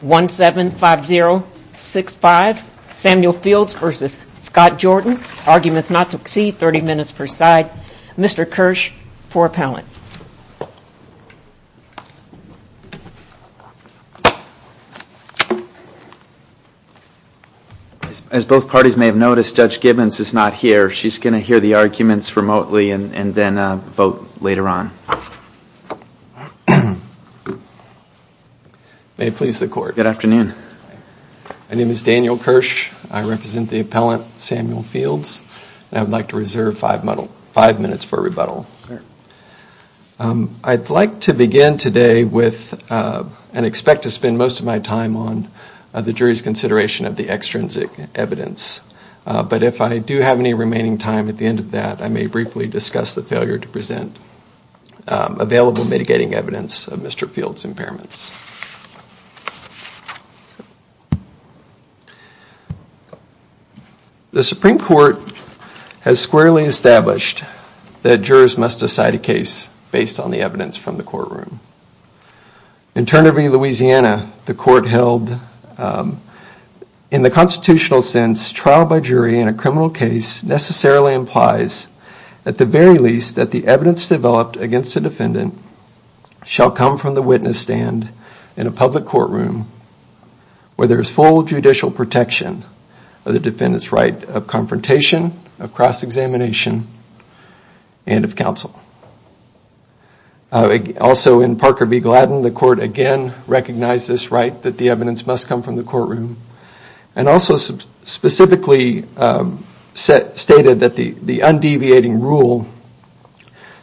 175065 Samuel Fields versus Scott Jordan arguments not to exceed 30 minutes per side Mr. Kirsch for appellant. As both parties may have noticed Judge Gibbons is not here she's going to hear the arguments remotely and then vote later on. May it please the court. Good afternoon. My name is Daniel Kirsch I represent the appellant Samuel Fields and I would like to reserve five minutes for rebuttal. I'd like to begin today with and expect to spend most of my time on the jury's consideration of the extrinsic evidence but if I do have any discuss the failure to present available mitigating evidence of Mr. Fields impairments. The Supreme Court has squarely established that jurors must decide a case based on the evidence from the courtroom. In Turner v. Louisiana the court held in the constitutional sense trial by jury in a criminal case necessarily implies at the very least that the evidence developed against the defendant shall come from the witness stand in a public courtroom where there is full judicial protection of the defendant's right of confrontation of cross-examination and of counsel. Also in Parker v. Gladden the court again recognized this right that the evidence must come from the courtroom and also specifically stated that the the undeviating rule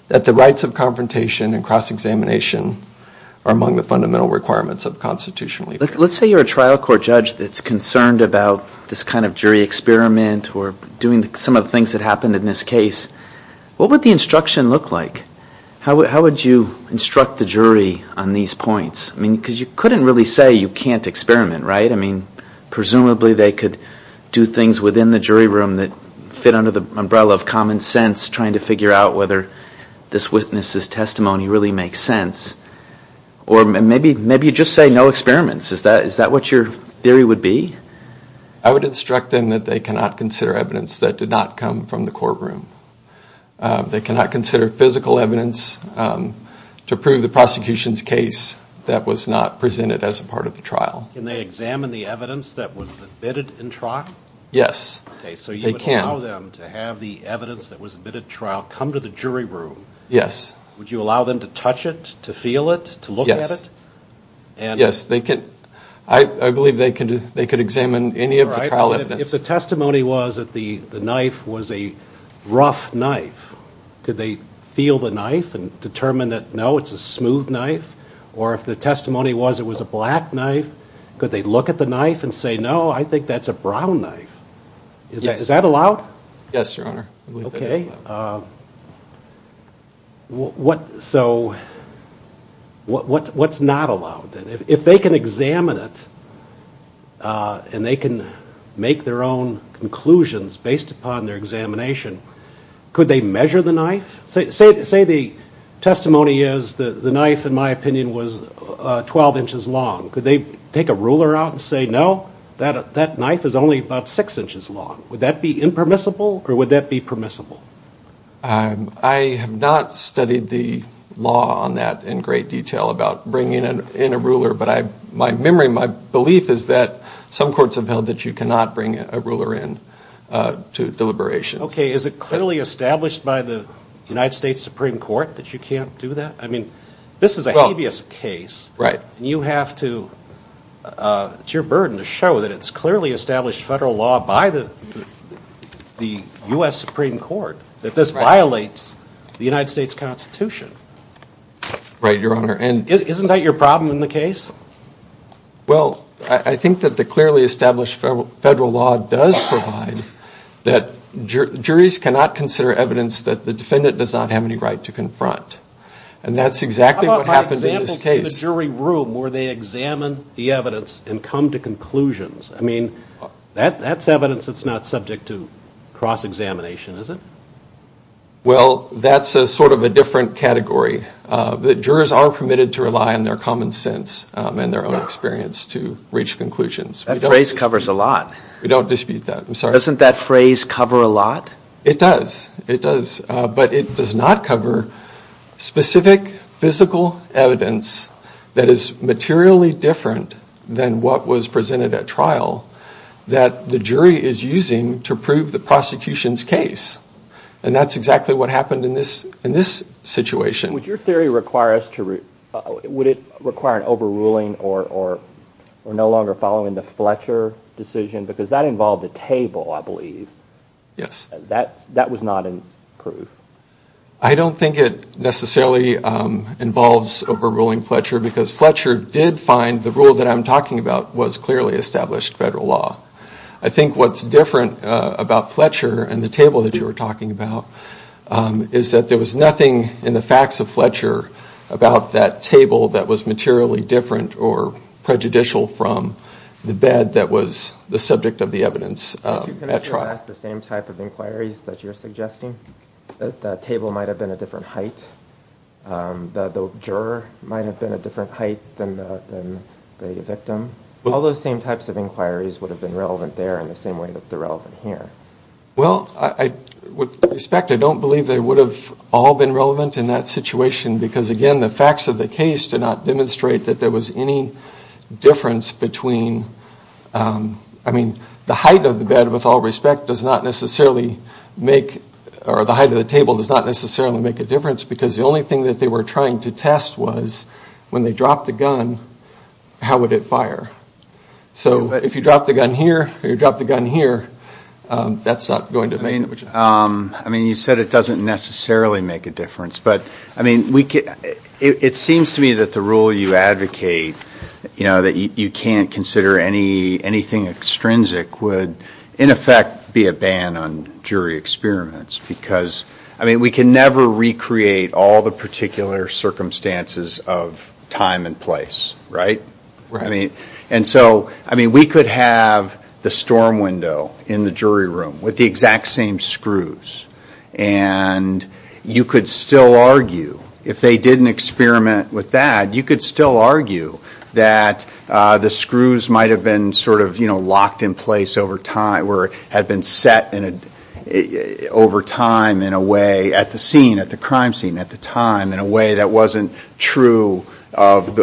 that the rights of confrontation and cross-examination are among the fundamental requirements of constitutional. Let's say you're a trial court judge that's concerned about this kind of jury experiment or doing some of the things that happened in this case what would the instruction look like? How would you instruct the jury on these points? I mean because you couldn't really say you can't experiment right? I could do things within the jury room that fit under the umbrella of common sense trying to figure out whether this witness's testimony really makes sense or maybe maybe you just say no experiments is that is that what your theory would be? I would instruct them that they cannot consider evidence that did not come from the courtroom. They cannot consider physical evidence to prove the prosecution's case that was not presented as a part of the trial. Can you allow them to have the evidence that was a bit of trial come to the jury room? Yes. Would you allow them to touch it, to feel it, to look at it? Yes they could I believe they could they could examine any of the trial evidence. If the testimony was that the the knife was a rough knife could they feel the knife and determine that no it's a smooth knife or if the testimony was it was a knife and say no I think that's a brown knife is that is that allowed? Yes your honor. Okay what so what what's not allowed then if they can examine it and they can make their own conclusions based upon their examination could they measure the knife? Say the testimony is the the knife in my opinion was 12 inches long could they take a ruler out and say no that that knife is only about six inches long would that be impermissible or would that be permissible? I have not studied the law on that in great detail about bringing in a ruler but I my memory my belief is that some courts have held that you cannot bring a ruler in to deliberations. Okay is it clearly established by the United States Supreme Court that you can't do that? I mean this is a habeas case right you have to it's your burden to show that it's clearly established federal law by the the US Supreme Court that this violates the United States Constitution. Right your honor and isn't that your problem in the case? Well I think that the clearly established federal law does provide that juries cannot consider evidence that the defendant does not have any right to in the jury room where they examine the evidence and come to conclusions I mean that that's evidence that's not subject to cross-examination is it? Well that's a sort of a different category the jurors are permitted to rely on their common sense and their own experience to reach conclusions. That phrase covers a lot. We don't dispute that I'm sorry. Doesn't that phrase cover a lot? It does it does but it does not cover specific physical evidence that is materially different than what was presented at trial that the jury is using to prove the prosecution's case and that's exactly what happened in this in this situation. Would your theory require us to would it require an overruling or or we're no longer following the Fletcher decision because that involved a table I believe. That was not in proof. I don't think it necessarily involves overruling Fletcher because Fletcher did find the rule that I'm talking about was clearly established federal law. I think what's different about Fletcher and the table that you were talking about is that there was nothing in the facts of Fletcher about that table that was materially different or prejudicial from the bed that was the subject of the evidence. Can I ask the same type of inquiries that you're suggesting? The table might have been a different height. The juror might have been a different height than the victim. All those same types of inquiries would have been relevant there in the same way that they're relevant here. Well I with respect I don't believe they would have all been relevant in that situation because again the facts of the case did not demonstrate that there was any difference between I mean the height of the bed with all respect does not necessarily make or the height of the table does not necessarily make a difference because the only thing that they were trying to test was when they drop the gun how would it fire. So if you drop the gun here or you drop the gun here that's not going to make it. I mean you said it doesn't necessarily make a you know that you can't consider any anything extrinsic would in effect be a ban on jury experiments because I mean we can never recreate all the particular circumstances of time and place right? Right. I mean and so I mean we could have the storm window in the jury room with the exact same screws and you could still argue if they didn't experiment with that you could still argue that the screws might have been sort of you know locked in place over time or had been set in a over time in a way at the scene at the crime scene at the time in a way that wasn't true of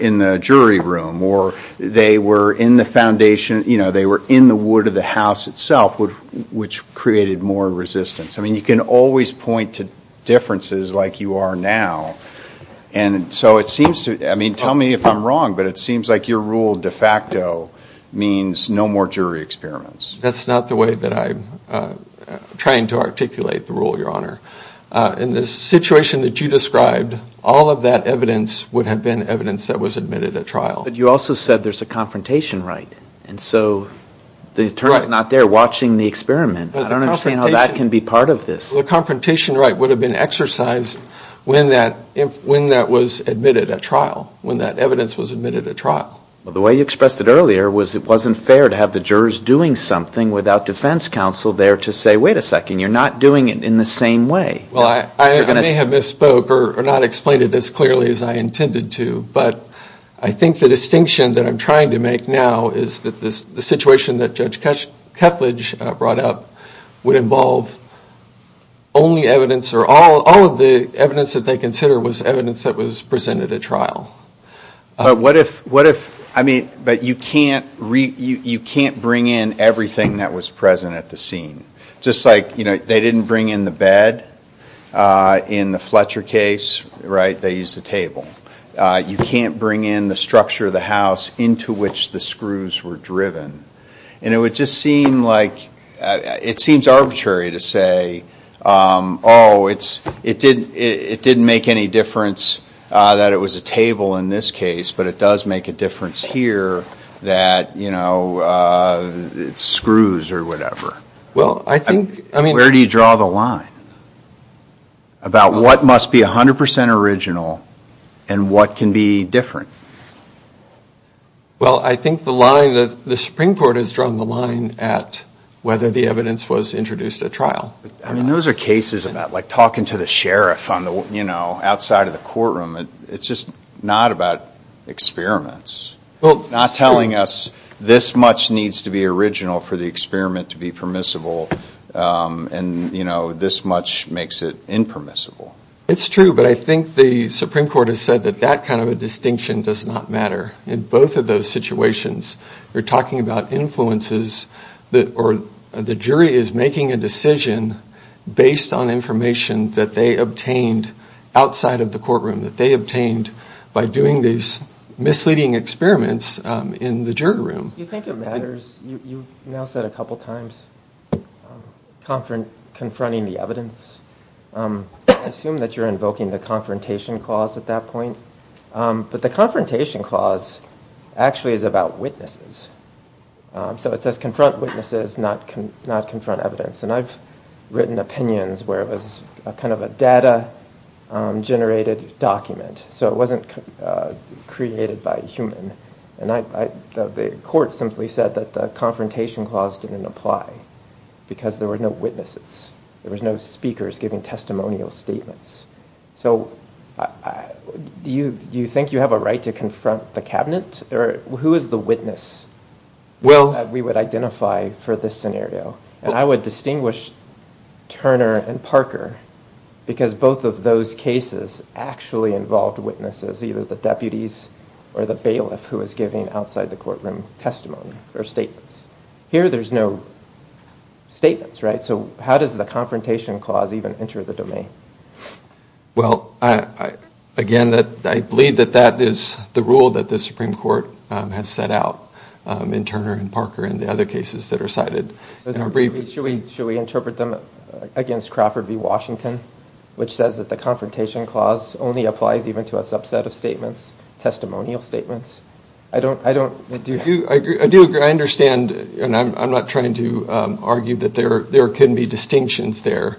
in the jury room or they were in the foundation you know they were in the wood of the house itself would which created more resistance. I mean you can always point to differences like you are now and so it seems to I mean tell me if I'm wrong but it seems like your rule de facto means no more jury experiments. That's not the way that I'm trying to articulate the rule your honor. In the situation that you described all of that evidence would have been evidence that was admitted at trial. But you also said there's a confrontation right and so the attorney's not there watching the I don't understand how that can be part of this. The confrontation right would have been exercised when that when that was admitted at trial when that evidence was admitted at trial. Well the way you expressed it earlier was it wasn't fair to have the jurors doing something without defense counsel there to say wait a second you're not doing it in the same way. Well I may have misspoke or not explained it as clearly as I intended to but I think the distinction that I'm trying to make now is that this the situation that Judge Kethledge brought up would involve only evidence or all of the evidence that they consider was evidence that was presented at trial. But what if what if I mean but you can't read you can't bring in everything that was present at the scene just like you know they didn't bring in the bed in the Fletcher case right they used the table. You can't bring in the structure of the house into which the it seems arbitrary to say oh it's it didn't it didn't make any difference that it was a table in this case but it does make a difference here that you know it's screws or whatever. Well I think I mean where do you draw the line about what must be a hundred percent original and what can be different? Well I think the line that the Supreme Court has drawn the line at whether the evidence was introduced at trial. I mean those are cases about like talking to the sheriff on the you know outside of the courtroom it's just not about experiments. Well not telling us this much needs to be original for the experiment to be permissible and you know this much makes it impermissible. It's true but I think the Supreme Court has said that that kind of a distinction does not matter in both of those situations. They're talking about influences that or the jury is making a decision based on information that they obtained outside of the courtroom that they obtained by doing these misleading experiments in the jury room. You think it matters you now said a couple times confront confronting the evidence. I assume that you're invoking the Confrontation Clause actually is about witnesses. So it says confront witnesses not confront evidence and I've written opinions where it was a kind of a data-generated document so it wasn't created by human and I thought the court simply said that the Confrontation Clause didn't apply because there were no witnesses. There was no speakers giving testimonial statements. So do you think you have a right to confront the cabinet or who is the witness? Well we would identify for this scenario and I would distinguish Turner and Parker because both of those cases actually involved witnesses either the deputies or the bailiff who is giving outside the courtroom testimony or statements. Here there's no statements right so how does the Confrontation Clause even enter the I believe that that is the rule that the Supreme Court has set out in Turner and Parker and the other cases that are cited. Should we should we interpret them against Crawford v. Washington which says that the Confrontation Clause only applies even to a subset of statements, testimonial statements. I don't I don't do you I do I understand and I'm not trying to argue that there there couldn't be distinctions there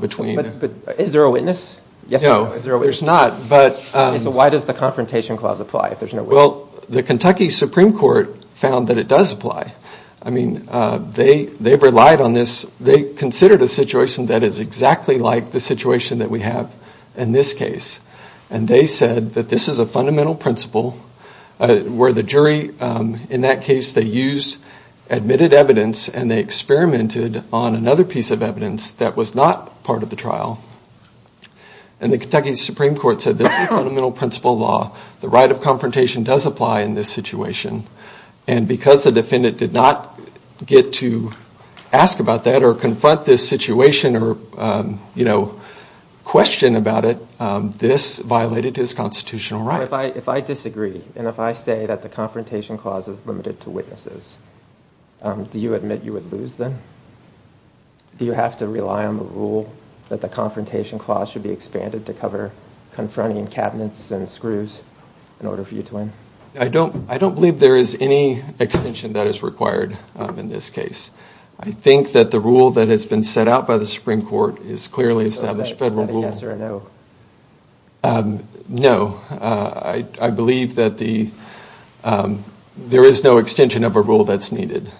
between. Is there a witness? No there's not but. So why does the Confrontation Clause apply if there's no witness? Well the Kentucky Supreme Court found that it does apply. I mean they they've relied on this they considered a situation that is exactly like the situation that we have in this case and they said that this is a fundamental principle where the jury in that case they used admitted evidence and they experimented on another piece of evidence that was not part of the trial and the Kentucky Supreme Court said this fundamental principle law the right of confrontation does apply in this situation and because the defendant did not get to ask about that or confront this situation or you know question about it this violated his constitutional right. If I disagree and if I say that the Confrontation Clause is limited to witnesses, do you admit you would lose then? Do you have to rely on the rule that the Confrontation Clause should be expanded to cover confronting cabinets and screws in order for you to win? I don't I don't believe there is any extension that is required in this case. I think that the rule that has been set out by the Supreme Court is clearly established federal rule. Is that a yes or a no? No, I believe that the there is no extension of a rule that's needed.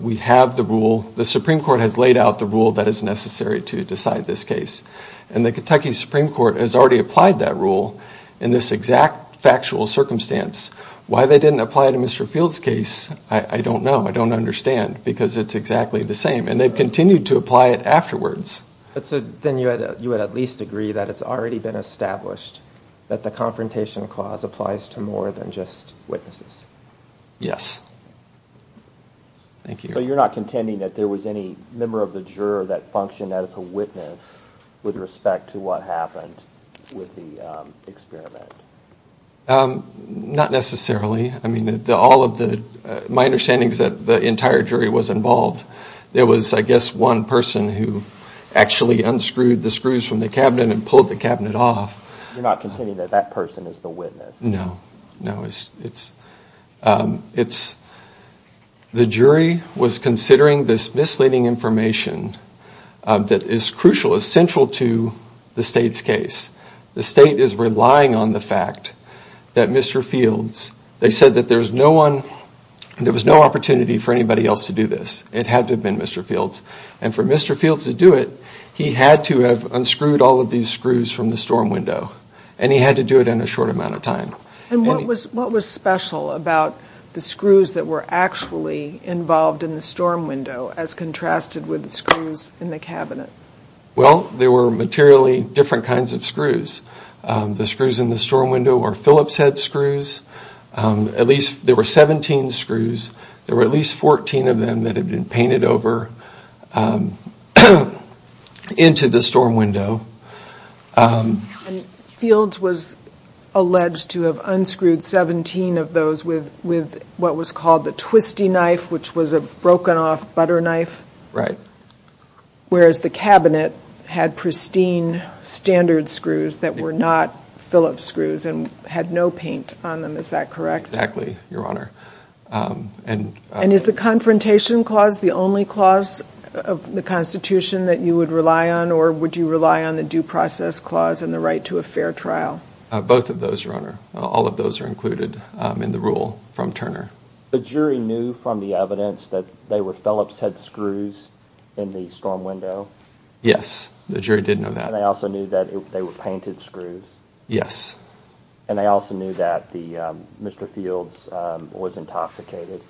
We have the rule the Supreme Court has laid out the rule that is necessary to decide this case and the Kentucky Supreme Court has already applied that rule in this exact factual circumstance. Why they didn't apply it in Mr. Field's case I don't know I don't understand because it's exactly the same and they've continued to apply it afterwards. So then you would at least agree that it's already been established that the Confrontation Clause applies to more than just witnesses? Yes. Thank you. So you're not contending that there was any member of the juror that functioned as a witness with respect to what happened with the experiment? Not necessarily. I mean that all of the my understandings that the entire jury was involved there was I guess one person who actually unscrewed the screws from the cabinet and pulled the cabinet off. You're not contending that that person is the witness? No, no it's it's it's the jury was considering this misleading information that is crucial is central to the state's case. The state is relying on the fact that Mr. Fields they said that there's no one there was no opportunity for anybody else to do this it had to have been Mr. Fields and for Mr. Fields to do it he had to have unscrewed all of these screws from the storm window and he had to do it in a short amount of time. And what was what was special about the screws that were actually involved in the storm window as contrasted with the screws in the cabinet? Well there were materially different kinds of screws the screws in the storm window or Phillips head screws at least there were 17 screws there were at least 14 of them that had been painted over into the storm window. Fields was alleged to have unscrewed 17 of those with with what was called the twisty knife which was a broken off butter knife? Right. Whereas the cabinet had pristine standard screws that were not Phillips screws and had no paint on them is that correct? Exactly your honor. And and is the confrontation clause the only clause of the Constitution that you would rely on or would you rely on the due process clause and the right to a fair trial? Both of those your honor all of those are included in the rule from Turner. The jury knew from the evidence that they were Phillips head screws in the storm window? Yes the jury did know that. They also knew that they were painted screws? Yes. And they also knew that the Mr. Fields was intoxicated?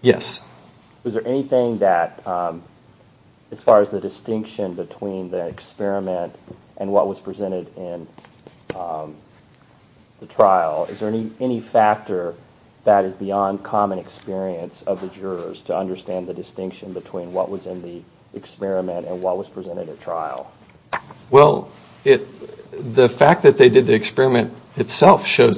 Yes. Is there anything that as far as the distinction between the experiment and what was presented in the trial is there any any factor that is beyond common experience of the jurors to understand the distinction between what was in the experiment and what was presented at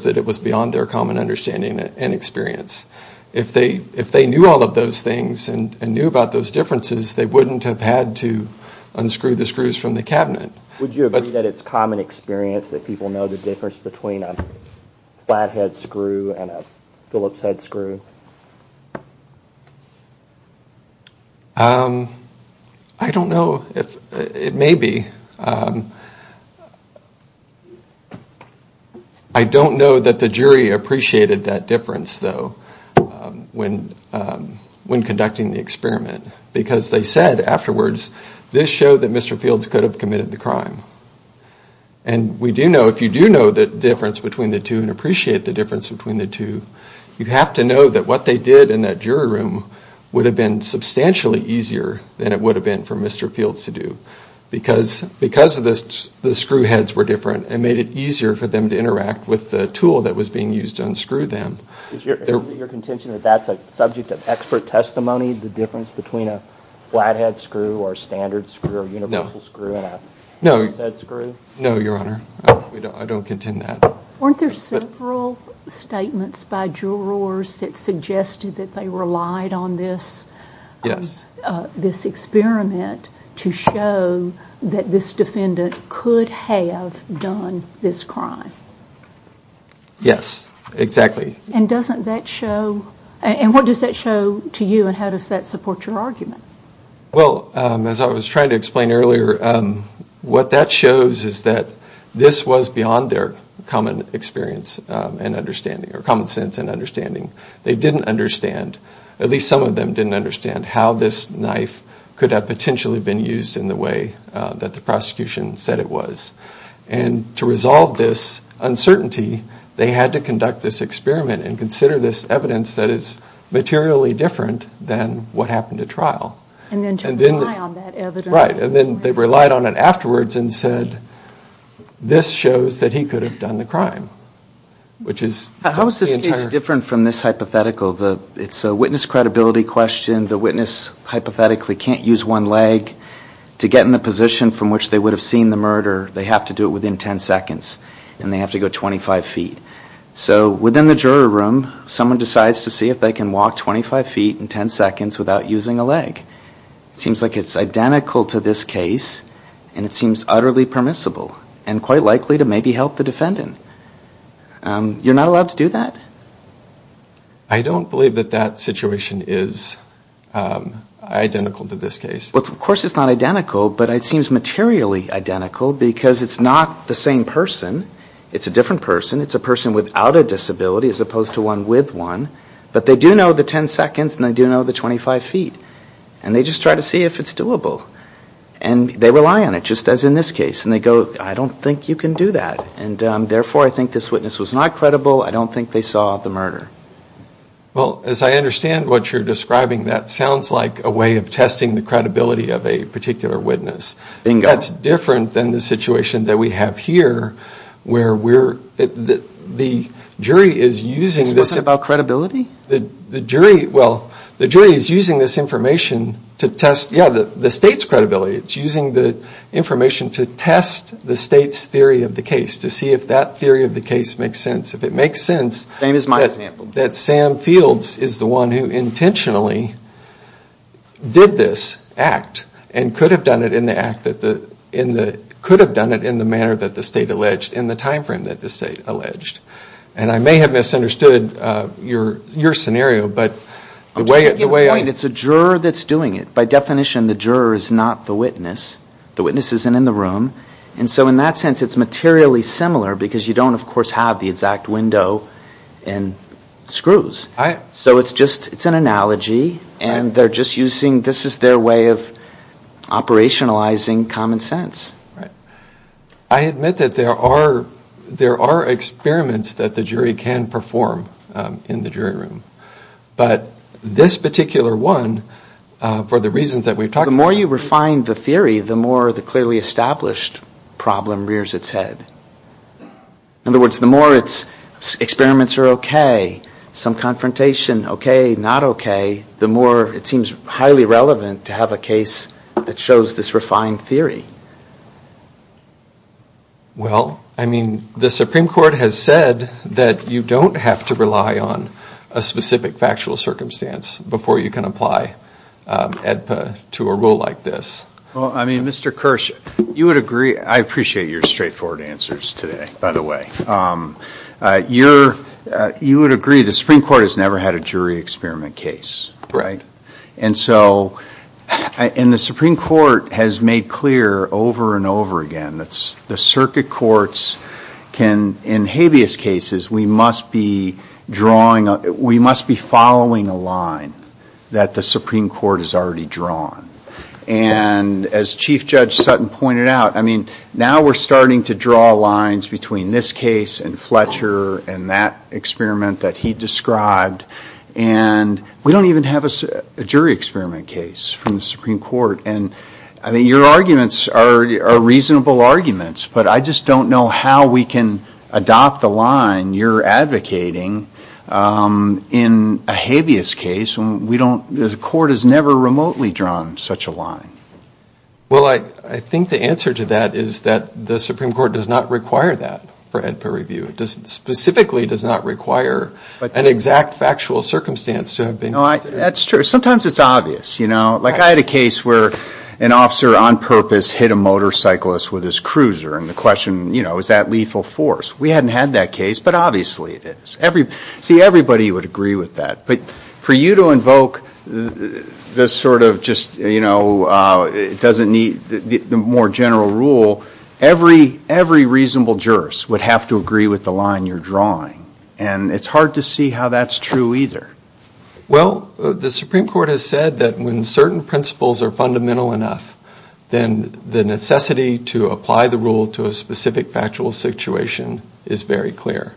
that it was beyond their common understanding and experience. If they if they knew all of those things and knew about those differences they wouldn't have had to unscrew the screws from the cabinet. Would you agree that it's common experience that people know the difference between a flathead screw and that the jury appreciated that difference though when when conducting the experiment because they said afterwards this show that Mr. Fields could have committed the crime and we do know if you do know the difference between the two and appreciate the difference between the two you have to know that what they did in that jury room would have been substantially easier than it would have been for Mr. Fields to do because because of this the screw heads were different and made it easier for them to interact with the tool that was being used to unscrew them. Your contention that that's a subject of expert testimony the difference between a flathead screw or standard screw or universal screw? No your honor I don't contend that. Weren't there several statements by jurors that suggested that they relied on this yes this experiment to show that this defendant could have done this crime? Yes exactly. And doesn't that show and what does that show to you and how does that support your argument? Well as I was trying to explain earlier what that shows is that this was beyond their common experience and understanding or common sense and understanding they didn't understand at least some of them didn't understand how this knife could have potentially been used in the way that the prosecution said it was and to resolve this uncertainty they had to conduct this experiment and consider this evidence that is materially different than what happened at trial. And then to rely on that evidence. Right and then they relied on it afterwards and said this shows that he could have done the crime which is. How is this case different from this hypothetical the it's a witness credibility question the witness hypothetically can't use one leg to get in a position from which they would have seen the murder they have to do it within 10 seconds and they have to go 25 feet so within the jury room someone decides to see if they can walk 25 feet in 10 seconds without using a leg. Seems like it's identical to this case and it seems utterly permissible and quite likely to maybe help the defendant. You're not allowed to do that? I don't believe that that situation is identical to this case. Of course it's not but it seems materially identical because it's not the same person it's a different person it's a person without a disability as opposed to one with one but they do know the 10 seconds and they do know the 25 feet and they just try to see if it's doable and they rely on it just as in this case and they go I don't think you can do that and therefore I think this witness was not credible I don't think they saw the murder. Well as I understand what you're describing that that's different than the situation that we have here where we're the jury is using this about credibility the jury well the jury is using this information to test yeah the state's credibility it's using the information to test the state's theory of the case to see if that theory of the case makes sense if it makes sense same as my example that Sam Fields is the one who intentionally did this act and could have done it in the act that the in the could have done it in the manner that the state alleged in the time frame that the state alleged and I may have misunderstood your your scenario but the way it's a juror that's doing it by definition the juror is not the witness the witness isn't in the room and so in that sense it's materially similar because you don't of act window and screws so it's just it's an analogy and they're just using this is their way of operationalizing common sense right I admit that there are there are experiments that the jury can perform in the jury room but this particular one for the reasons that we've talked the more you refine the theory the more the clearly established problem rears its head in other words the more it's experiments are okay some confrontation okay not okay the more it seems highly relevant to have a case that shows this refined theory well I mean the Supreme Court has said that you don't have to rely on a specific factual circumstance before you can apply EDPA to a rule like this well I mean mr. Kirsch you would agree I appreciate your straightforward answers today by the way you're you would agree the Supreme Court has never had a jury experiment case right and so in the Supreme Court has made clear over and over again that's the circuit courts can in habeas cases we must be drawing up we must be following a line that the Supreme Court is already drawn and as Chief Judge Sutton pointed out I mean now we're starting to draw lines between this case and Fletcher and that experiment that he described and we don't even have a jury experiment case from the Supreme Court and I mean your arguments are reasonable arguments but I just don't know how we can adopt the line you're advocating in a habeas case and we don't the court has never remotely drawn such a line well I think the answer to that is that the Supreme Court does not require that for EDPA review it doesn't specifically does not require an exact factual circumstance to have been that's true sometimes it's obvious you know like I had a case where an officer on purpose hit a motorcyclist with his cruiser and the question you know is that lethal force we hadn't had that case but obviously it is every see everybody would agree with that but for you to more general rule every every reasonable jurors would have to agree with the line you're drawing and it's hard to see how that's true either well the Supreme Court has said that when certain principles are fundamental enough then the necessity to apply the rule to a specific factual situation is very clear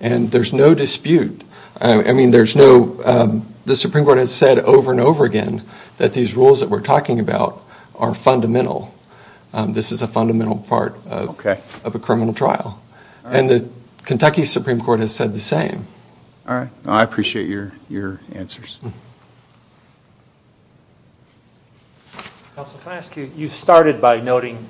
and there's no dispute I mean there's no the Supreme Court has said over and over again that these rules that we're talking about are fundamental this is a fundamental part of a criminal trial and the Kentucky Supreme Court has said the same I appreciate your your answer you started by noting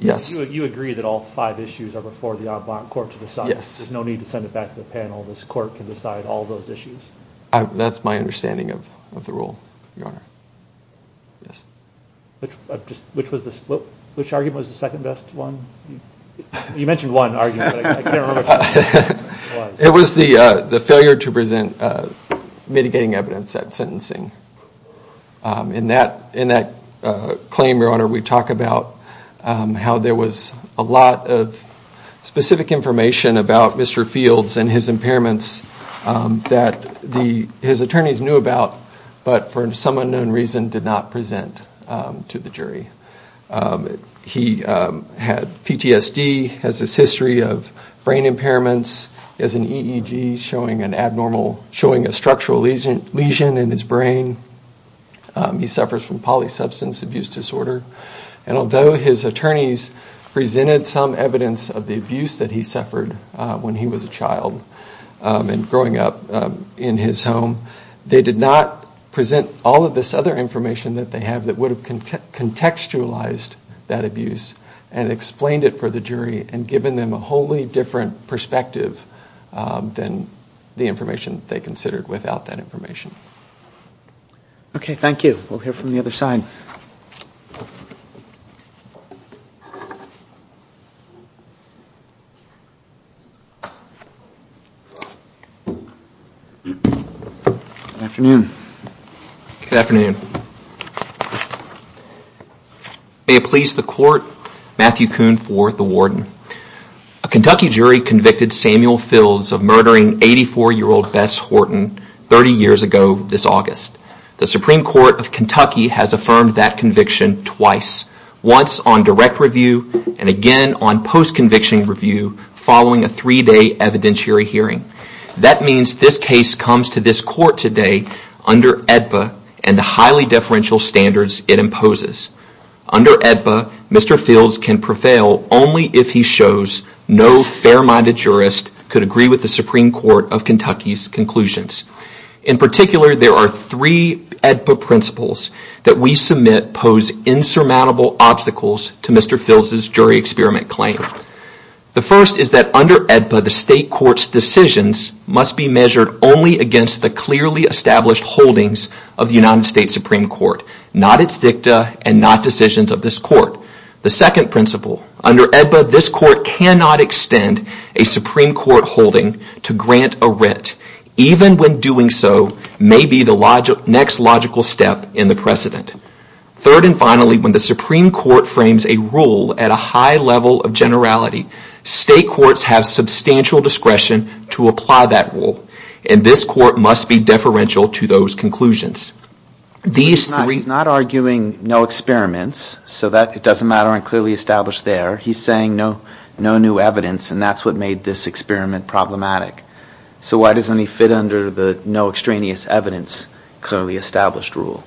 yes you agree that all five issues are before the court to decide yes there's no need to send it to the panel this court can decide all those issues that's my understanding of the rule your honor yes which was the split which argument was the second best one you mentioned one argument it was the the failure to present mitigating evidence that sentencing in that in that claim your honor we talked about how there was a lot of specific information about mr. Fields and his impairments that the his attorneys knew about but for some unknown reason did not present to the jury he had PTSD has this history of brain impairments as an EEG showing an abnormal showing a structural lesion lesion in his brain he suffers from substance abuse disorder and although his attorneys presented some evidence of the abuse that he suffered when he was a child and growing up in his home they did not present all of this other information that they have that would have contextualized that abuse and explained it for the jury and given them a wholly different perspective than the information they considered without that afternoon a police the court Matthew Kuhn for the warden a Kentucky jury convicted Samuel Fields of murdering 84 year old Bess Horton 30 years ago this August the conviction twice once on direct review and again on post conviction review following a three-day evidentiary hearing that means this case comes to this court today under and the highly deferential standards it imposes under Mr. Fields can prevail only if he shows no fair-minded jurist could agree with the Supreme Court of Kentucky's conclusions in particular there are three principles that we submit pose insurmountable obstacles to Mr. Fields' jury experiment claim the first is that under the state court's decisions must be measured only against the clearly established holdings of the United States Supreme Court not its dicta and not decisions of this court the second principle under this court cannot extend a Supreme Court holding to next logical step in the precedent third and finally when the Supreme Court frames a rule at a high level of generality state courts have substantial discretion to apply that rule and this court must be deferential to those conclusions these three not arguing no experiments so that it doesn't matter and clearly established there he's saying no no new evidence and that's what made this experiment problematic so why doesn't he fit under the no extraneous evidence clearly established rule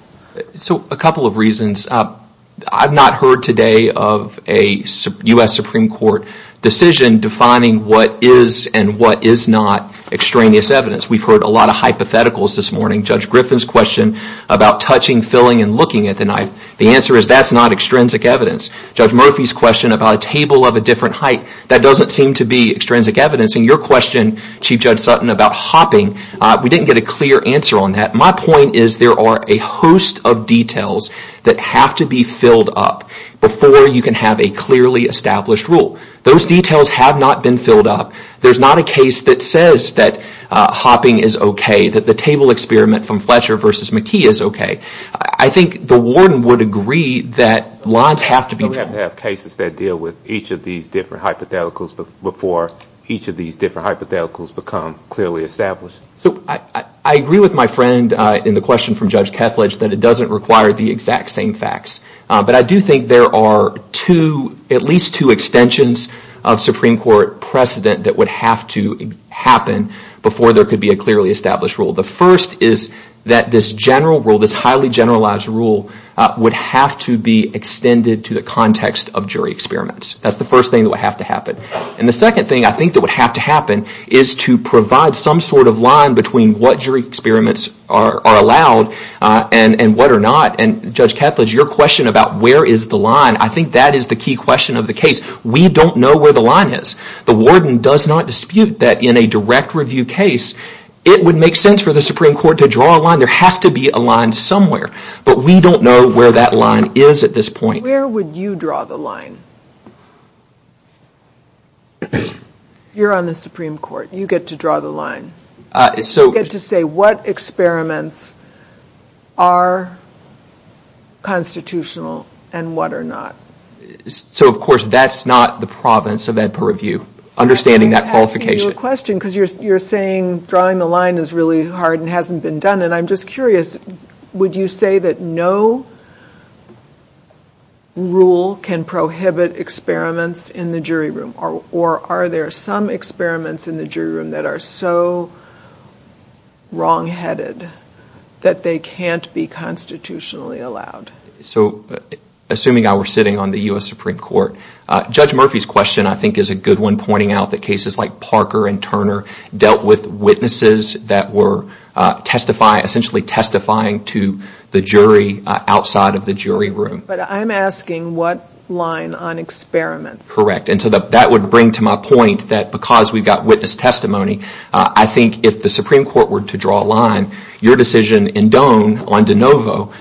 so a couple of reasons I've not heard today of a US Supreme Court decision defining what is and what is not extraneous evidence we've heard a lot of hypotheticals this morning judge Griffin's question about touching filling and looking at the knife the answer is that's not extrinsic evidence judge Murphy's question about a table of a different height that doesn't seem to be extrinsic evidence and your question chief judge Sutton about hopping we didn't get a clear answer on that my point is there are a host of details that have to be filled up before you can have a clearly established rule those details have not been filled up there's not a case that says that hopping is okay that the table experiment from Fletcher versus McKee is okay I think the warden would agree that lines have to be cases that deal with each of these different hypotheticals before each of the alcohols become clearly established so I agree with my friend in the question from judge Ketledge that it doesn't require the exact same facts but I do think there are two at least two extensions of Supreme Court precedent that would have to happen before there could be a clearly established rule the first is that this general rule this highly generalized rule would have to be extended to the context of jury experiments that's the first thing that happen and the second thing I think that would have to happen is to provide some sort of line between what jury experiments are allowed and and what or not and judge Ketledge your question about where is the line I think that is the key question of the case we don't know where the line is the warden does not dispute that in a direct review case it would make sense for the Supreme Court to draw a line there has to be a line somewhere but we don't know where that line is at this point where would you draw the line you're on the Supreme Court you get to draw the line it's so good to say what experiments are constitutional and what or not so of course that's not the province of Edpa review understanding that qualification question because you're saying drawing the line is really hard and hasn't been done and I'm just curious would you say that no rule can prohibit experiments in the jury room or are there some experiments in the jury room that are so wrong headed that they can't be constitutionally allowed so assuming I were sitting on the US Supreme Court judge Murphy's question I think is a good one pointing out the cases like Parker and Turner dealt with witnesses that were testify essentially testifying to the jury outside of the jury room but I'm asking what line on experiments correct and so that would bring to my point that because we've got witness testimony I think if the Supreme Court were to draw a line your decision in Doan on de novo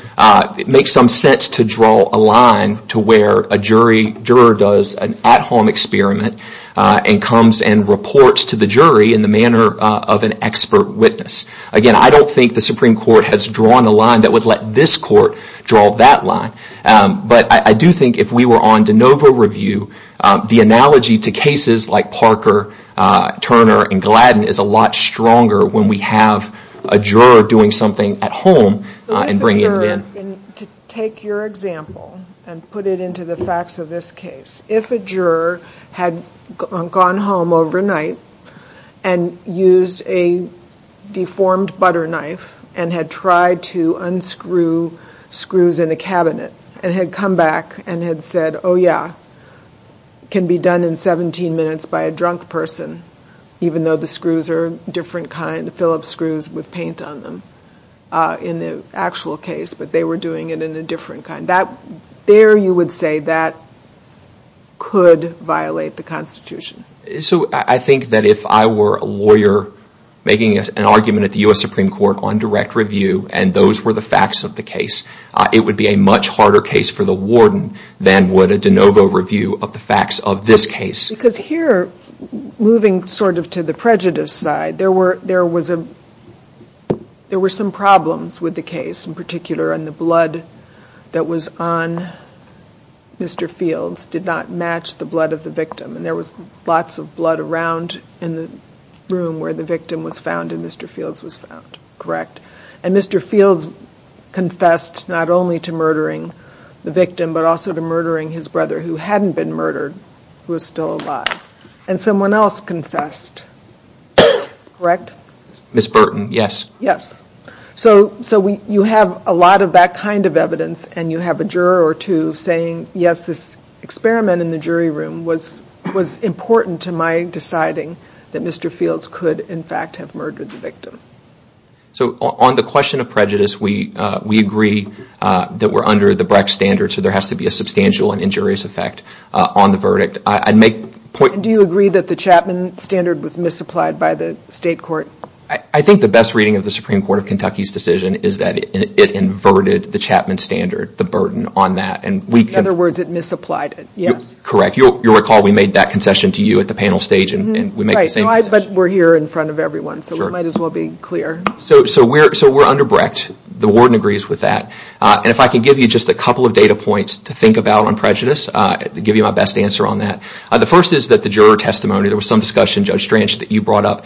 it makes some sense to draw a line to where a jury juror does an at-home experiment and comes and reports to the jury in the manner of an expert witness again I don't think the Supreme Court has drawn a line that would let this court draw that line but I do think if we were on de novo review the analogy to cases like Parker Turner and Gladden is a lot stronger when we have a juror doing something at home and bring it in to take your example and put it into the facts of this case if a juror had gone home overnight and used a deformed butter knife and had tried to unscrew screws in a cabinet and had come back and had said oh yeah can be done in 17 minutes by a drunk person even though the screws are different kind of Phillips screws with paint on them in the actual case but they were doing it in a different kind that there you would say that could violate the Constitution so I think that if I were a an argument at the US Supreme Court on direct review and those were the facts of the case it would be a much harder case for the warden than would a de novo review of the facts of this case because here moving sort of to the prejudice side there were there was a there were some problems with the case in particular and the blood that was on mr. Fields did not match the blood of the victim and there was lots of blood around in the room where the victim was found in mr. Fields was found correct and mr. Fields confessed not only to murdering the victim but also to murdering his brother who hadn't been murdered who was still alive and someone else confessed correct miss Burton yes yes so so we you have a lot of that kind of evidence and you have a juror or two saying yes this experiment in the jury room was was mr. Fields could in fact have murdered the victim so on the question of prejudice we we agree that we're under the Brecht standard so there has to be a substantial and injurious effect on the verdict I'd make point do you agree that the Chapman standard was misapplied by the state court I think the best reading of the Supreme Court of Kentucky's decision is that it inverted the Chapman standard the burden on that and we can other words it misapplied it yes correct you'll recall we made that concession to you at the panel stage and we're here in front of everyone so we might as well be clear so so we're so we're under Brecht the warden agrees with that and if I can give you just a couple of data points to think about on prejudice to give you my best answer on that the first is that the juror testimony there was some discussion judge Strange that you brought up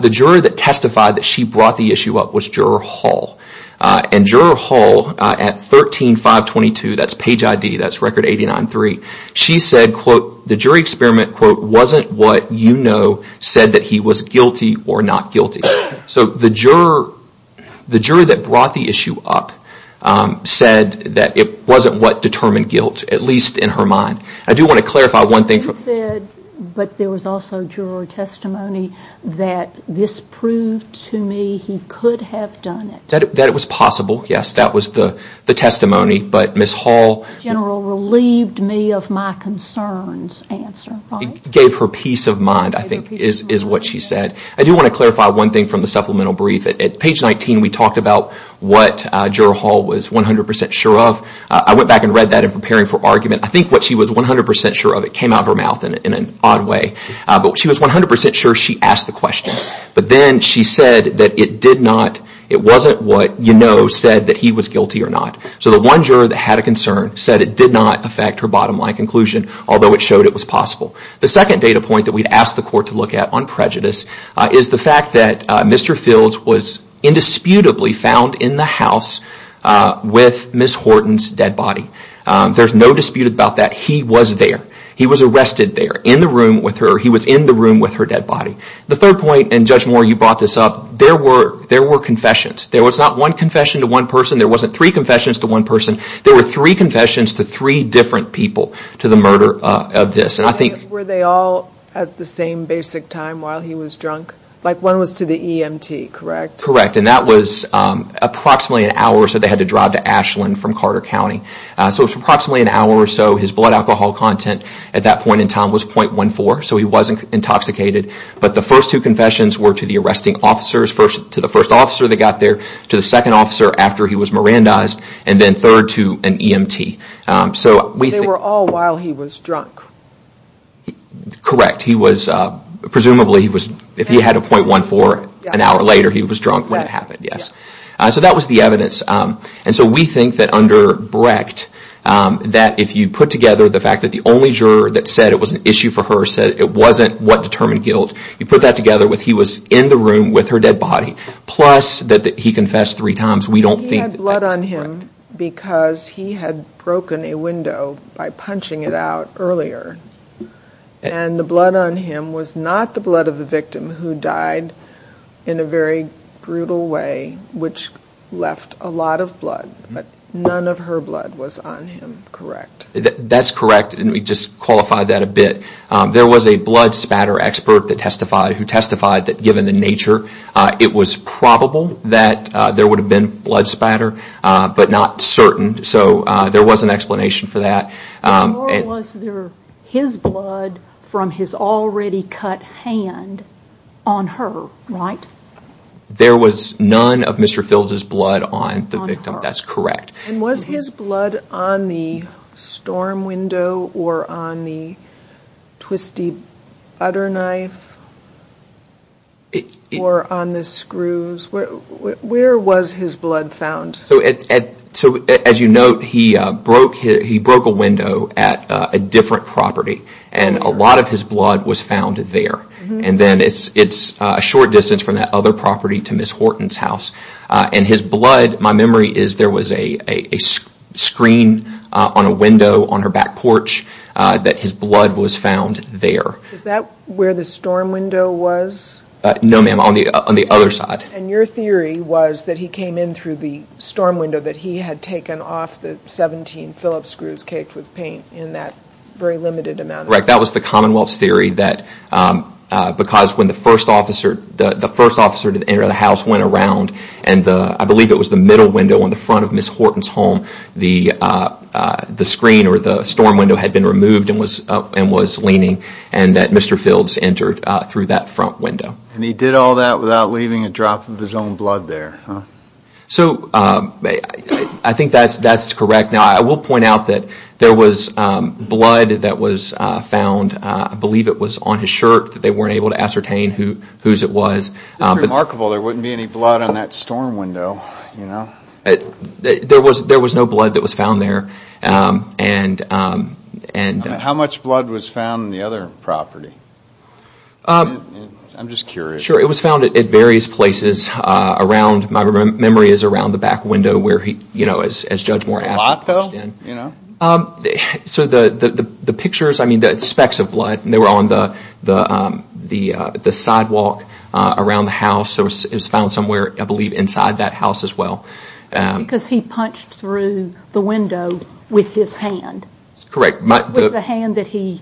the juror that testified that she brought the issue up was juror Hall and juror Hall at 13 522 that's page ID that's record 89 3 she said quote the jury experiment quote wasn't what you know said that he was guilty or not guilty so the juror the juror that brought the issue up said that it wasn't what determined guilt at least in her mind I do want to clarify one thing but there was also juror testimony that this proved to me he could have done it that it was possible yes that was the the me of my concerns gave her peace of mind I think is what she said I do want to clarify one thing from the supplemental brief at page 19 we talked about what juror Hall was 100% sure of I went back and read that in preparing for argument I think what she was 100% sure of it came out of her mouth in an odd way but she was 100% sure she asked the question but then she said that it did not it wasn't what you know said that he was guilty or not so the one juror that had concern said it did not affect her bottom line conclusion although it showed it was possible the second data point that we asked the court to look at on prejudice is the fact that Mr. Fields was indisputably found in the house with Miss Horton's dead body there's no dispute about that he was there he was arrested there in the room with her he was in the room with her dead body the third point and judge more you brought this up there were there were confessions there was not one confession to one person there wasn't three confessions to three different people to the murder of this and I think were they all at the same basic time while he was drunk like one was to the EMT correct correct and that was approximately an hour so they had to drive to Ashland from Carter County so it's approximately an hour or so his blood alcohol content at that point in time was 0.14 so he wasn't intoxicated but the first two confessions were to the arresting officers first to the first officer they got there to the second officer after he was Miranda's and then third to an EMT so we were all while he was drunk correct he was presumably he was if he had a 0.14 an hour later he was drunk when it happened yes so that was the evidence and so we think that under Brecht that if you put together the fact that the only juror that said it was an issue for her said it wasn't what determined guilt you put that together with he was in the room with her dead body plus that he confessed three times we don't think blood on him because he had broken a window by punching it out earlier and the blood on him was not the blood of the victim who died in a very brutal way which left a lot of blood but none of her blood was on him correct that's correct and we just qualify that a bit there was a blood spatter expert that testified who testified that given the nature it was probable that there would have been blood spatter but not certain so there was an explanation for that and was there his blood from his already cut hand on her right there was none of Mr. Phil's blood on the victim that's correct and was his blood on the storm window or on the twisty butter knife or on the screws where was his blood found so as you know he broke a window at a different property and a lot of his blood was found there and then it's a short distance from that other property to Miss Horton's house and his blood my memory is there was a screen on a window on her back porch that his where the storm window was no ma'am on the other side and your theory was that he came in through the storm window that he had taken off the 17 Phillips screws caked with paint in that very limited amount of time correct that was the Commonwealth's theory that because when the first officer the first officer to enter the house went around and I believe it was the middle window on the front of Miss Horton's home the the screen or the storm window had been through that front window and he did all that without leaving a drop of his own blood there so I think that's that's correct now I will point out that there was blood that was found I believe it was on his shirt that they were able to ascertain who whose it was remarkable there wouldn't be any blood on that storm window there was there was no blood that was found there and and how much blood was found in the other property I'm just curious sure it was found at various places around my memory is around the back window where he you know as Judge Moore asked so the the pictures I mean the specks of blood and they were on the the the sidewalk around the house there was found somewhere I believe inside that house as well because he punched through the window with his hand correct my hand that he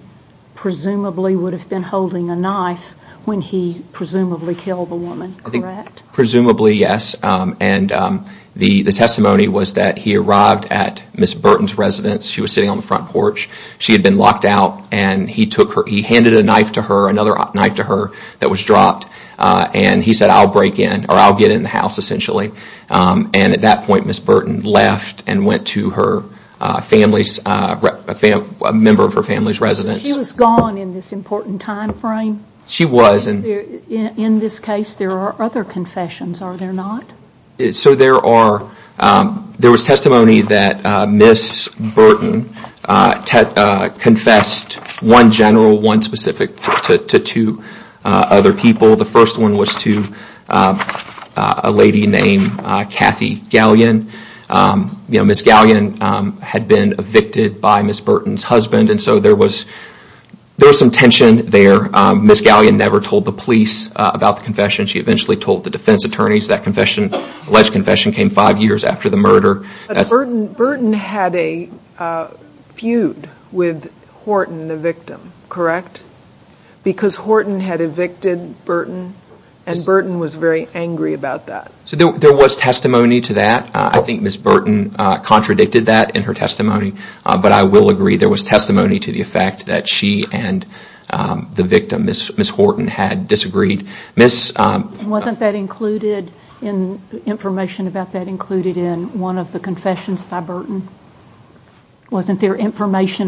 presumably would have been holding a knife when he presumably killed a woman I think presumably yes and the the testimony was that he arrived at Miss Burton's residence she was sitting on the front porch she had been locked out and he took her he handed a knife to her another knife to her that was dropped and he said I'll break in or I'll get in the house essentially and at that point Miss Burton left and went to her family's a member of her family's residence she was gone in this important time frame she was and in this case there are other confessions are there not it so there are there was testimony that Miss Burton confessed one general one specific to two other people the first one was to a lady named Kathy Galleon you know Miss Galleon had been evicted by Miss Burton's husband and so there was there was some tension there Miss Galleon never told the police about the confession she eventually told the defense attorneys that confession alleged confession came five years after the murder that's Burton Burton had a feud with Horton the victim correct because Horton had evicted Burton and Burton was very angry about that so there was testimony to that I think Miss Burton contradicted that in her testimony but I will agree there was testimony to the effect that she and the victim is Miss Horton had disagreed miss wasn't that included in information about that included in one of the confessions by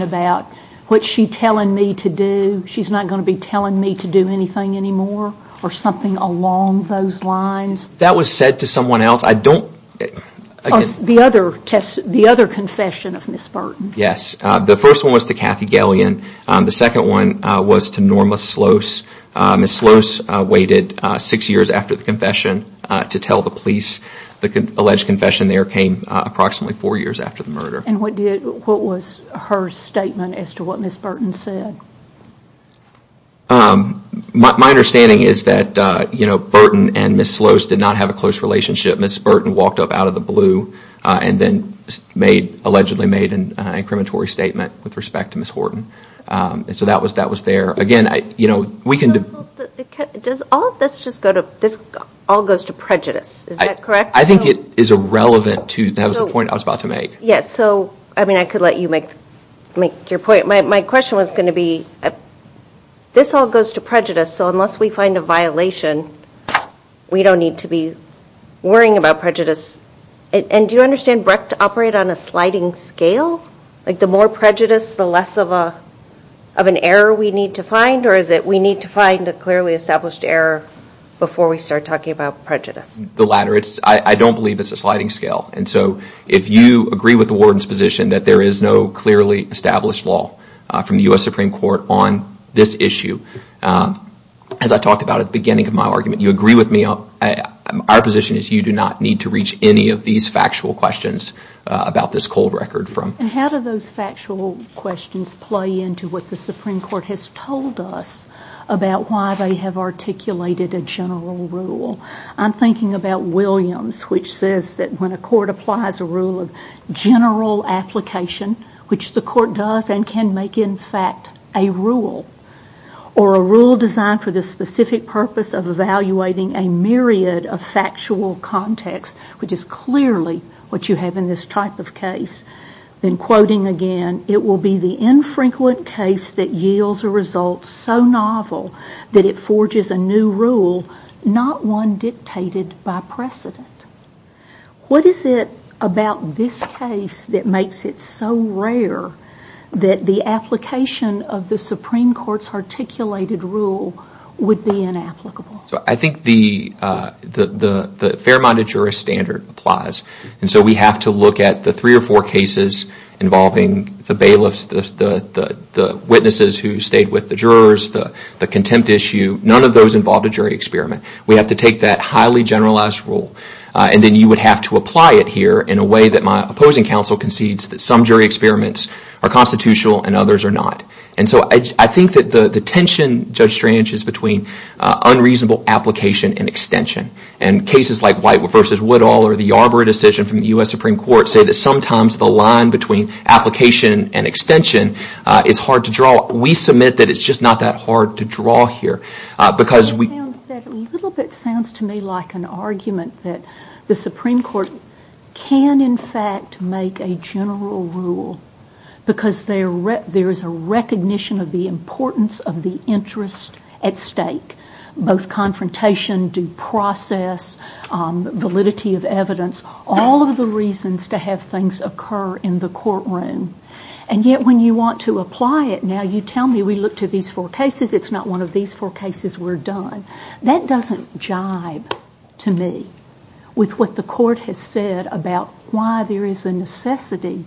about what she telling me to do she's not going to be telling me to do anything anymore or something along those lines that was said to someone else I don't the other test the other confession of Miss Burton yes the first was the Kathy Galleon on the second one was to Norma Slos Miss Slos waited six years after the confession to tell the police the alleged confession there came approximately four years after the murder and what did what was her statement as to what Miss Burton said my understanding is that you know Burton and Miss Slos did not have a close relationship Miss Burton walked up out of the blue and then made allegedly made an incriminatory statement with respect to Miss Horton so that was that was there again I you know we can do does all this just go to this all goes to prejudice I think it is a relevant to point I was about to make yes so I mean I could let you make make your point my question was going to be this all goes to prejudice so unless we find a violation we don't need to be worrying about prejudice and do you understand Brecht operate on a sliding scale like the more prejudice the less of a of an error we need to find or is it we need to find a clearly established error before we start talking about prejudice the latter it's I don't believe it's a if you agree with the warden's position that there is no clearly established law from the US Supreme Court on this issue as I talked about at the beginning of my argument you agree with me on our position is you do not need to reach any of these factual questions about this cold record from how do those factual questions play into what the Supreme Court has told us about why they have articulated a general rule I'm thinking about Williams which says that when a rule of general application which the court does and can make in fact a rule or a rule designed for the specific purpose of evaluating a myriad of factual context which is clearly what you have in this type of case then quoting again it will be the infrequent case that yields a result so novel that it forges a new rule not one dictated by precedent what is it about this case that makes it so rare that the application of the Supreme Court's articulated rule would be inapplicable so I think the the Fairmont a juror standard applies and so we have to look at the three or four cases involving the bailiffs the witnesses who stayed with the jurors the contempt issue none of those involved a jury experiment we have to take that highly generalized rule and then you would have to apply it here in a way that my opposing counsel concedes that some jury experiments are constitutional and others are not and so I think that the the tension judge strange is between unreasonable application and extension and cases like white versus Woodall or the Arbery decision from the US Supreme Court say that sometimes the line between application and extension is hard to draw we submit that it's just not that hard to draw here because we little bit sounds to me like an argument that the Supreme Court can in fact make a general rule because there is a recognition of the importance of the interest at stake both confrontation due process validity of evidence all of the reasons to have things occur in the courtroom and yet when you want to apply it now you tell me we look to these four cases it's not one of these four cases we're done that doesn't jibe to me with what the court has said about why there is a necessity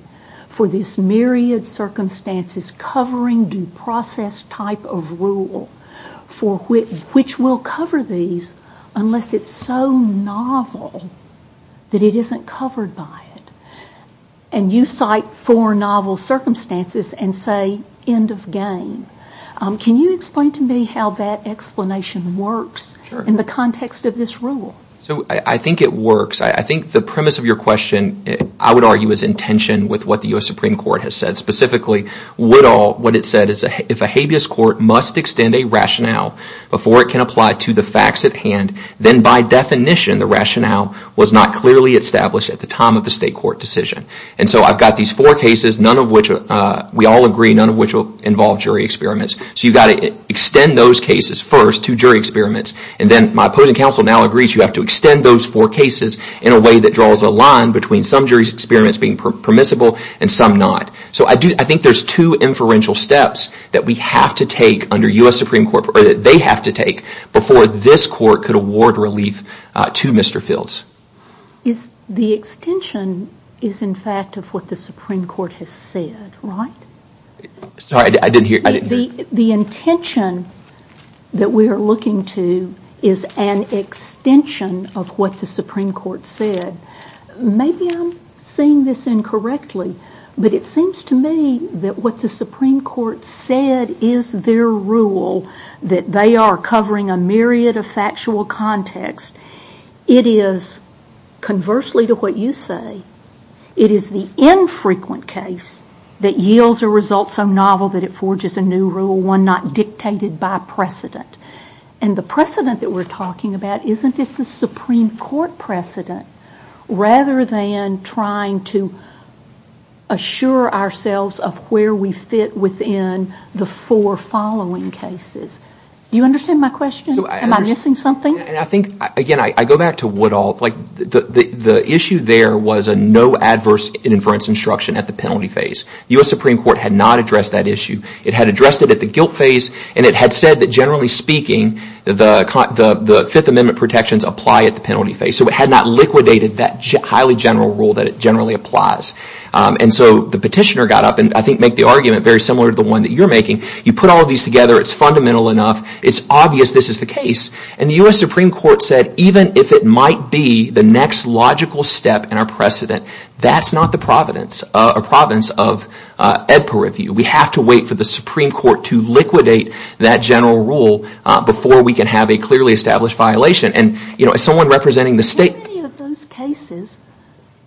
for this myriad circumstances covering due process type of rule for which will cover these unless it's so novel that it isn't covered by it and you cite for novel circumstances and say end of game can you explain to me how that explanation works in the context of this rule so I think it works I think the premise of your question I would argue is intention with what the US Supreme Court has said specifically what all what it said is if a habeas court must extend a rationale before it can apply to the facts at hand then by definition the rationale was not clearly established at the time of the state court decision and so I've got these four cases none of which are we all agree none of which will involve jury experiments so you got it extend those cases first to jury experiments and then my opposing counsel now agrees you have to extend those four cases in a way that draws a line between some jury's experiments being permissible and some not so I do I think there's two inferential steps that we have to take under US Supreme Court that they have to before this court could award relief to Mr. Fields is the extension is in fact of what the Supreme Court has said right sorry I didn't hear the intention that we are looking to is an extension of what the Supreme Court said maybe I'm saying this incorrectly but it seems to me that what the Supreme Court said is their rule that they are covering a myriad of factual context it is conversely to what you say it is the infrequent case that yields a result so novel that it forges a new rule one not dictated by precedent and the precedent that we're talking about isn't it the Supreme Court precedent rather than trying to assure ourselves of where we fit within the four following cases you understand my question something I think I go back to what all like the issue there was a no adverse inference instruction at the penalty phase US Supreme Court had not addressed that issue it had addressed it at the guilt phase and it had said that generally speaking the the the Fifth Amendment protections apply at the penalty phase so it had not liquidated that highly general rule that it generally applies and so the petitioner got up and I think make the argument very similar to the one that you're making you put all these together it's fundamental enough it's obvious this is the case and the US Supreme Court said even if it might be the next logical step in our precedent that's not the Providence a province of Ed per review we have to wait for the Supreme Court to liquidate that general rule before we can have a clearly established violation and you know as someone representing the state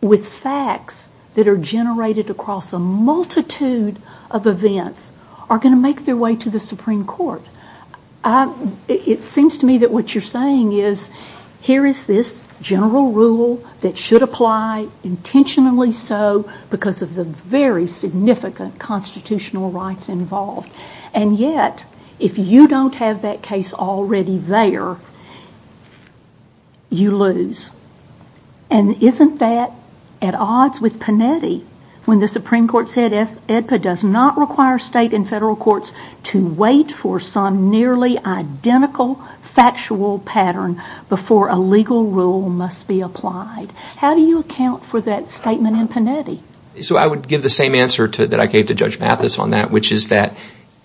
with facts that are generated across a multitude of events are going to make their way to the Supreme Court it seems to me that what you're saying is here is this general rule that should apply intentionally so because of the very significant constitutional rights involved and yet if you don't have that case already there you lose and isn't that at odds with Panetti when the Supreme Court said if it does not require state and federal courts to wait for some nearly identical factual pattern before a legal rule must be applied how do you account for that statement in Panetti so I would give the same answer to that I gave to judge Mathis on that which is that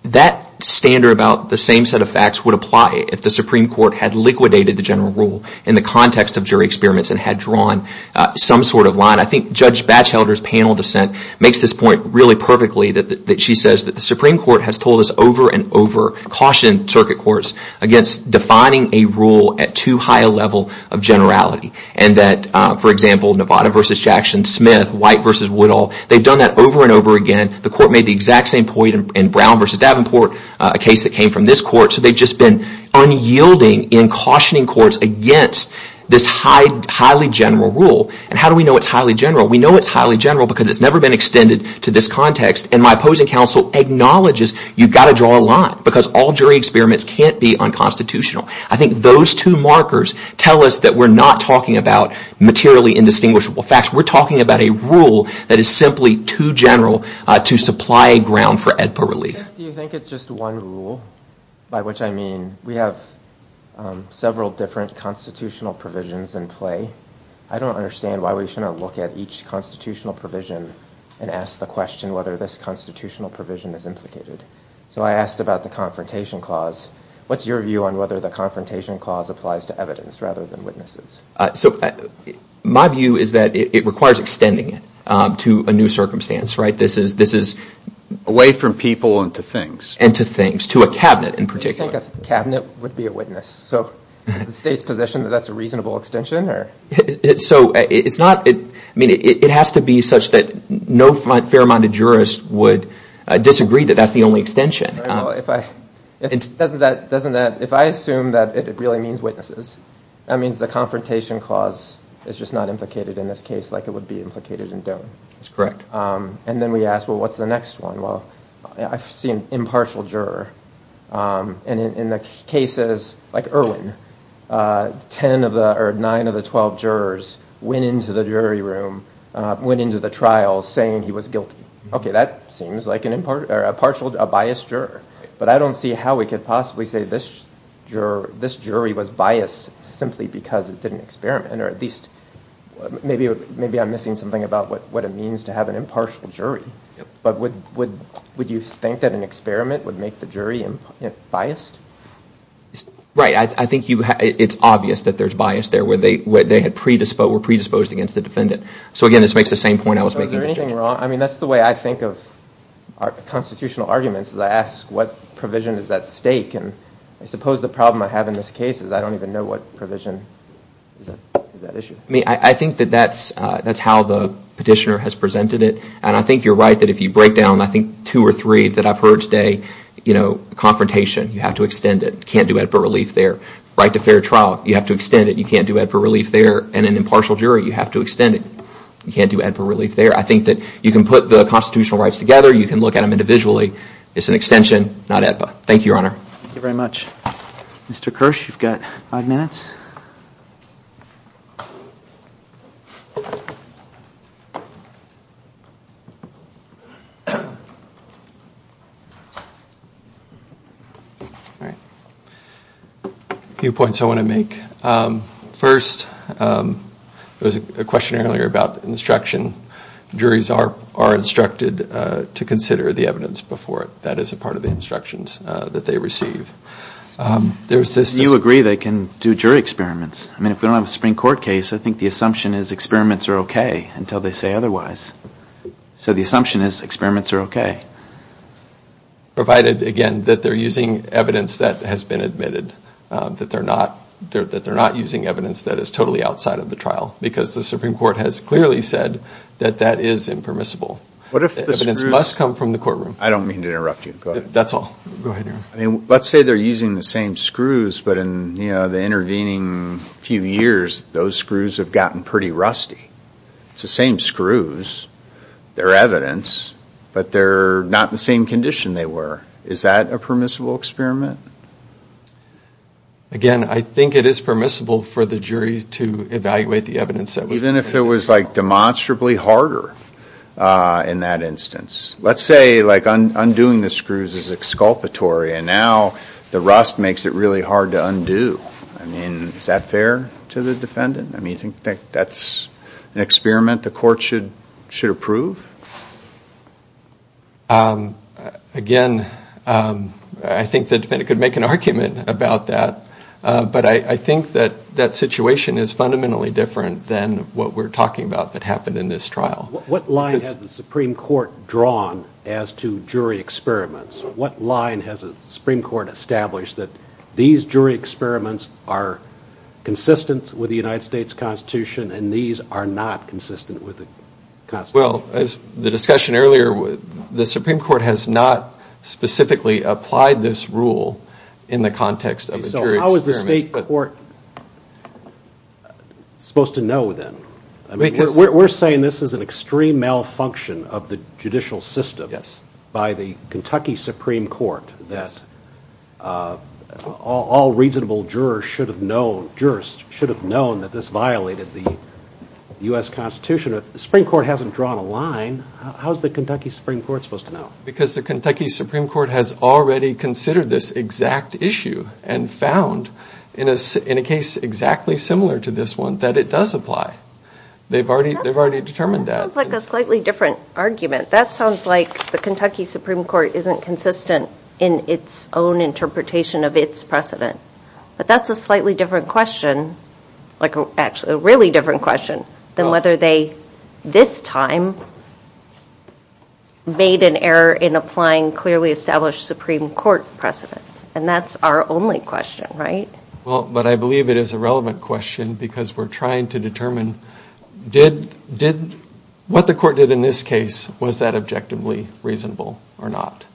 that standard about the same set of facts would apply if the Supreme Court had liquidated the general rule in the context of jury experiments and had drawn some sort of line I think Judge Batchelder's panel dissent makes this point really perfectly that she says that the Supreme Court has told us over and over cautioned circuit courts against defining a rule at too high a level of generality and that for example Nevada versus Jackson Smith white versus Woodall they've done that over and over again the court made the exact same point in Brown versus Davenport a case that came from this court so they've just been unyielding in cautioning courts against this highly general rule and how do we know it's highly general we know it's highly general because it's never been extended to this context and my opposing counsel acknowledges you've got to draw a line because all jury experiments can't be unconstitutional I think those two markers tell us that we're not talking about materially indistinguishable facts we're talking about a rule that is simply too general to supply a ground for EDPA relief we have several different constitutional provisions in play I don't understand why we shouldn't look at each constitutional provision and ask the question whether this constitutional provision is implicated so I asked about the confrontation clause what's your view on whether the confrontation clause applies to evidence rather than witnesses so my view is that it requires extending it to a new circumstance right this is this is away from people and to things and to things to a cabinet in particular cabinet would be a witness so the state's position that that's a reasonable extension or it's so it's not it I mean it has to be such that no fair-minded jurist would disagree that that's the only extension if I it doesn't that doesn't that if I assume that it really means witnesses that means the confrontation clause is just not implicated in this case like it would be asked well what's the next one well I've seen impartial juror and in the cases like Erwin ten of the or nine of the twelve jurors went into the jury room went into the trial saying he was guilty okay that seems like an impart or a partial a biased juror but I don't see how we could possibly say this juror this jury was biased simply because it didn't experiment or at least maybe maybe I'm missing something about what what it means to have an impartial jury but would would would you think that an experiment would make the jury and biased right I think you have it's obvious that there's bias there where they would they had predisposed were predisposed against the defendant so again this makes the same point I was making wrong I mean that's the way I think of our constitutional arguments is I ask what provision is at stake and I suppose the problem I have in this case is I don't even know what provision me I think that that's that's how the petitioner has presented it and I think you're right that if you break down I think two or three that I've heard today you know confrontation you have to extend it can't do it for relief their right to fair trial you have to extend it you can't do it for relief there and an impartial jury you have to extend it you can't do it for relief there I think that you can put the constitutional rights together you can look at them individually it's an extension not at but thank you your honor very much mr. all right few points I want to make first there's a question earlier about instruction juries are are instructed to consider the evidence before it that is a part of the instructions that they receive there's this you agree they can do jury experiments I mean if we don't have a Supreme Court case I think the assumption is experiments are okay until they say otherwise so the assumption is experiments are okay provided again that they're using evidence that has been admitted that they're not there that they're not using evidence that is totally outside of the trial because the Supreme Court has clearly said that that is impermissible what if the evidence must come from the courtroom I don't mean to interrupt you that's all I mean let's say they're using the same screws but in you know the intervening few years those screws have gotten pretty rusty it's the same screws their evidence but they're not the same condition they were is that a permissible experiment again I think it is permissible for the jury to evaluate the evidence that we've been if it was like demonstrably harder in that instance let's say like undoing the undo I mean is that fair to the defendant I mean you think that that's an experiment the court should should approve again I think the defendant could make an argument about that but I think that that situation is fundamentally different than what we're talking about that happened in this trial what line is the Supreme Court drawn as to jury experiments what line has a Supreme Court established that these jury experiments are consistent with the United States Constitution and these are not consistent with the Constitution well as the discussion earlier with the Supreme Court has not specifically applied this rule in the context of a jury experiment so how is the state court supposed to know then we're saying this is an extreme malfunction of the all reasonable jurors should have known jurist should have known that this violated the US Constitution of the Supreme Court hasn't drawn a line how's the Kentucky Supreme Court supposed to know because the Kentucky Supreme Court has already considered this exact issue and found in a in a case exactly similar to this one that it does apply they've already they've already determined that like a slightly different argument that sounds like the Kentucky Supreme Court isn't consistent in its own interpretation of its precedent but that's a slightly different question like actually a really different question than whether they this time made an error in applying clearly established Supreme Court precedent and that's our only question right well but I believe it is a relevant question because we're trying to determine did what the court did in this case was that objectively reasonable or not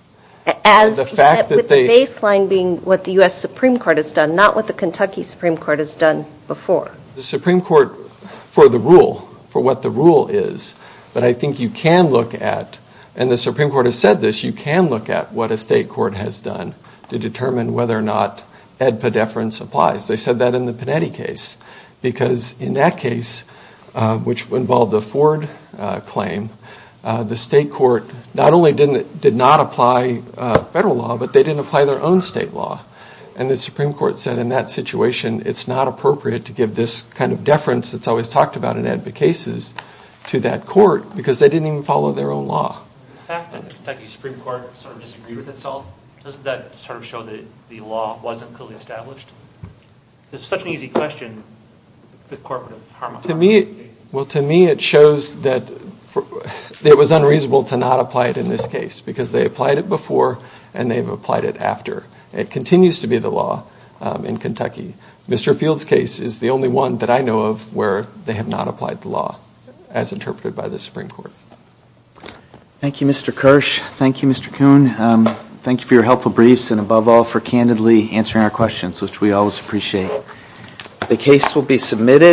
as the fact that they baseline being what the US Supreme Court has done not what the Kentucky Supreme Court has done before the Supreme Court for the rule for what the rule is but I think you can look at and the Supreme Court has said this you can look at what a state court has done to determine whether or not ed pedeference applies they said that in the Panetti case because in that case which involved the Ford claim the state court not only didn't it did not apply federal law but they didn't apply their own state law and the Supreme Court said in that situation it's not appropriate to give this kind of deference that's always talked about in advocate cases to that court because they didn't even follow their own law Kentucky Supreme Court sort of disagreed with itself doesn't that sort of show that the law wasn't clearly established there's such an easy question the court to me well to me it shows that it was unreasonable to not apply it in this case because they applied it before and they've applied it after it continues to be the law in Kentucky mr. Fields case is the only one that I know of where they have not applied the law as interpreted by the Supreme Court thank you mr. Kirsch thank you mr. Coon thank you for your helpful briefs and above all for candidly answering our questions which we always appreciate the case will be submitted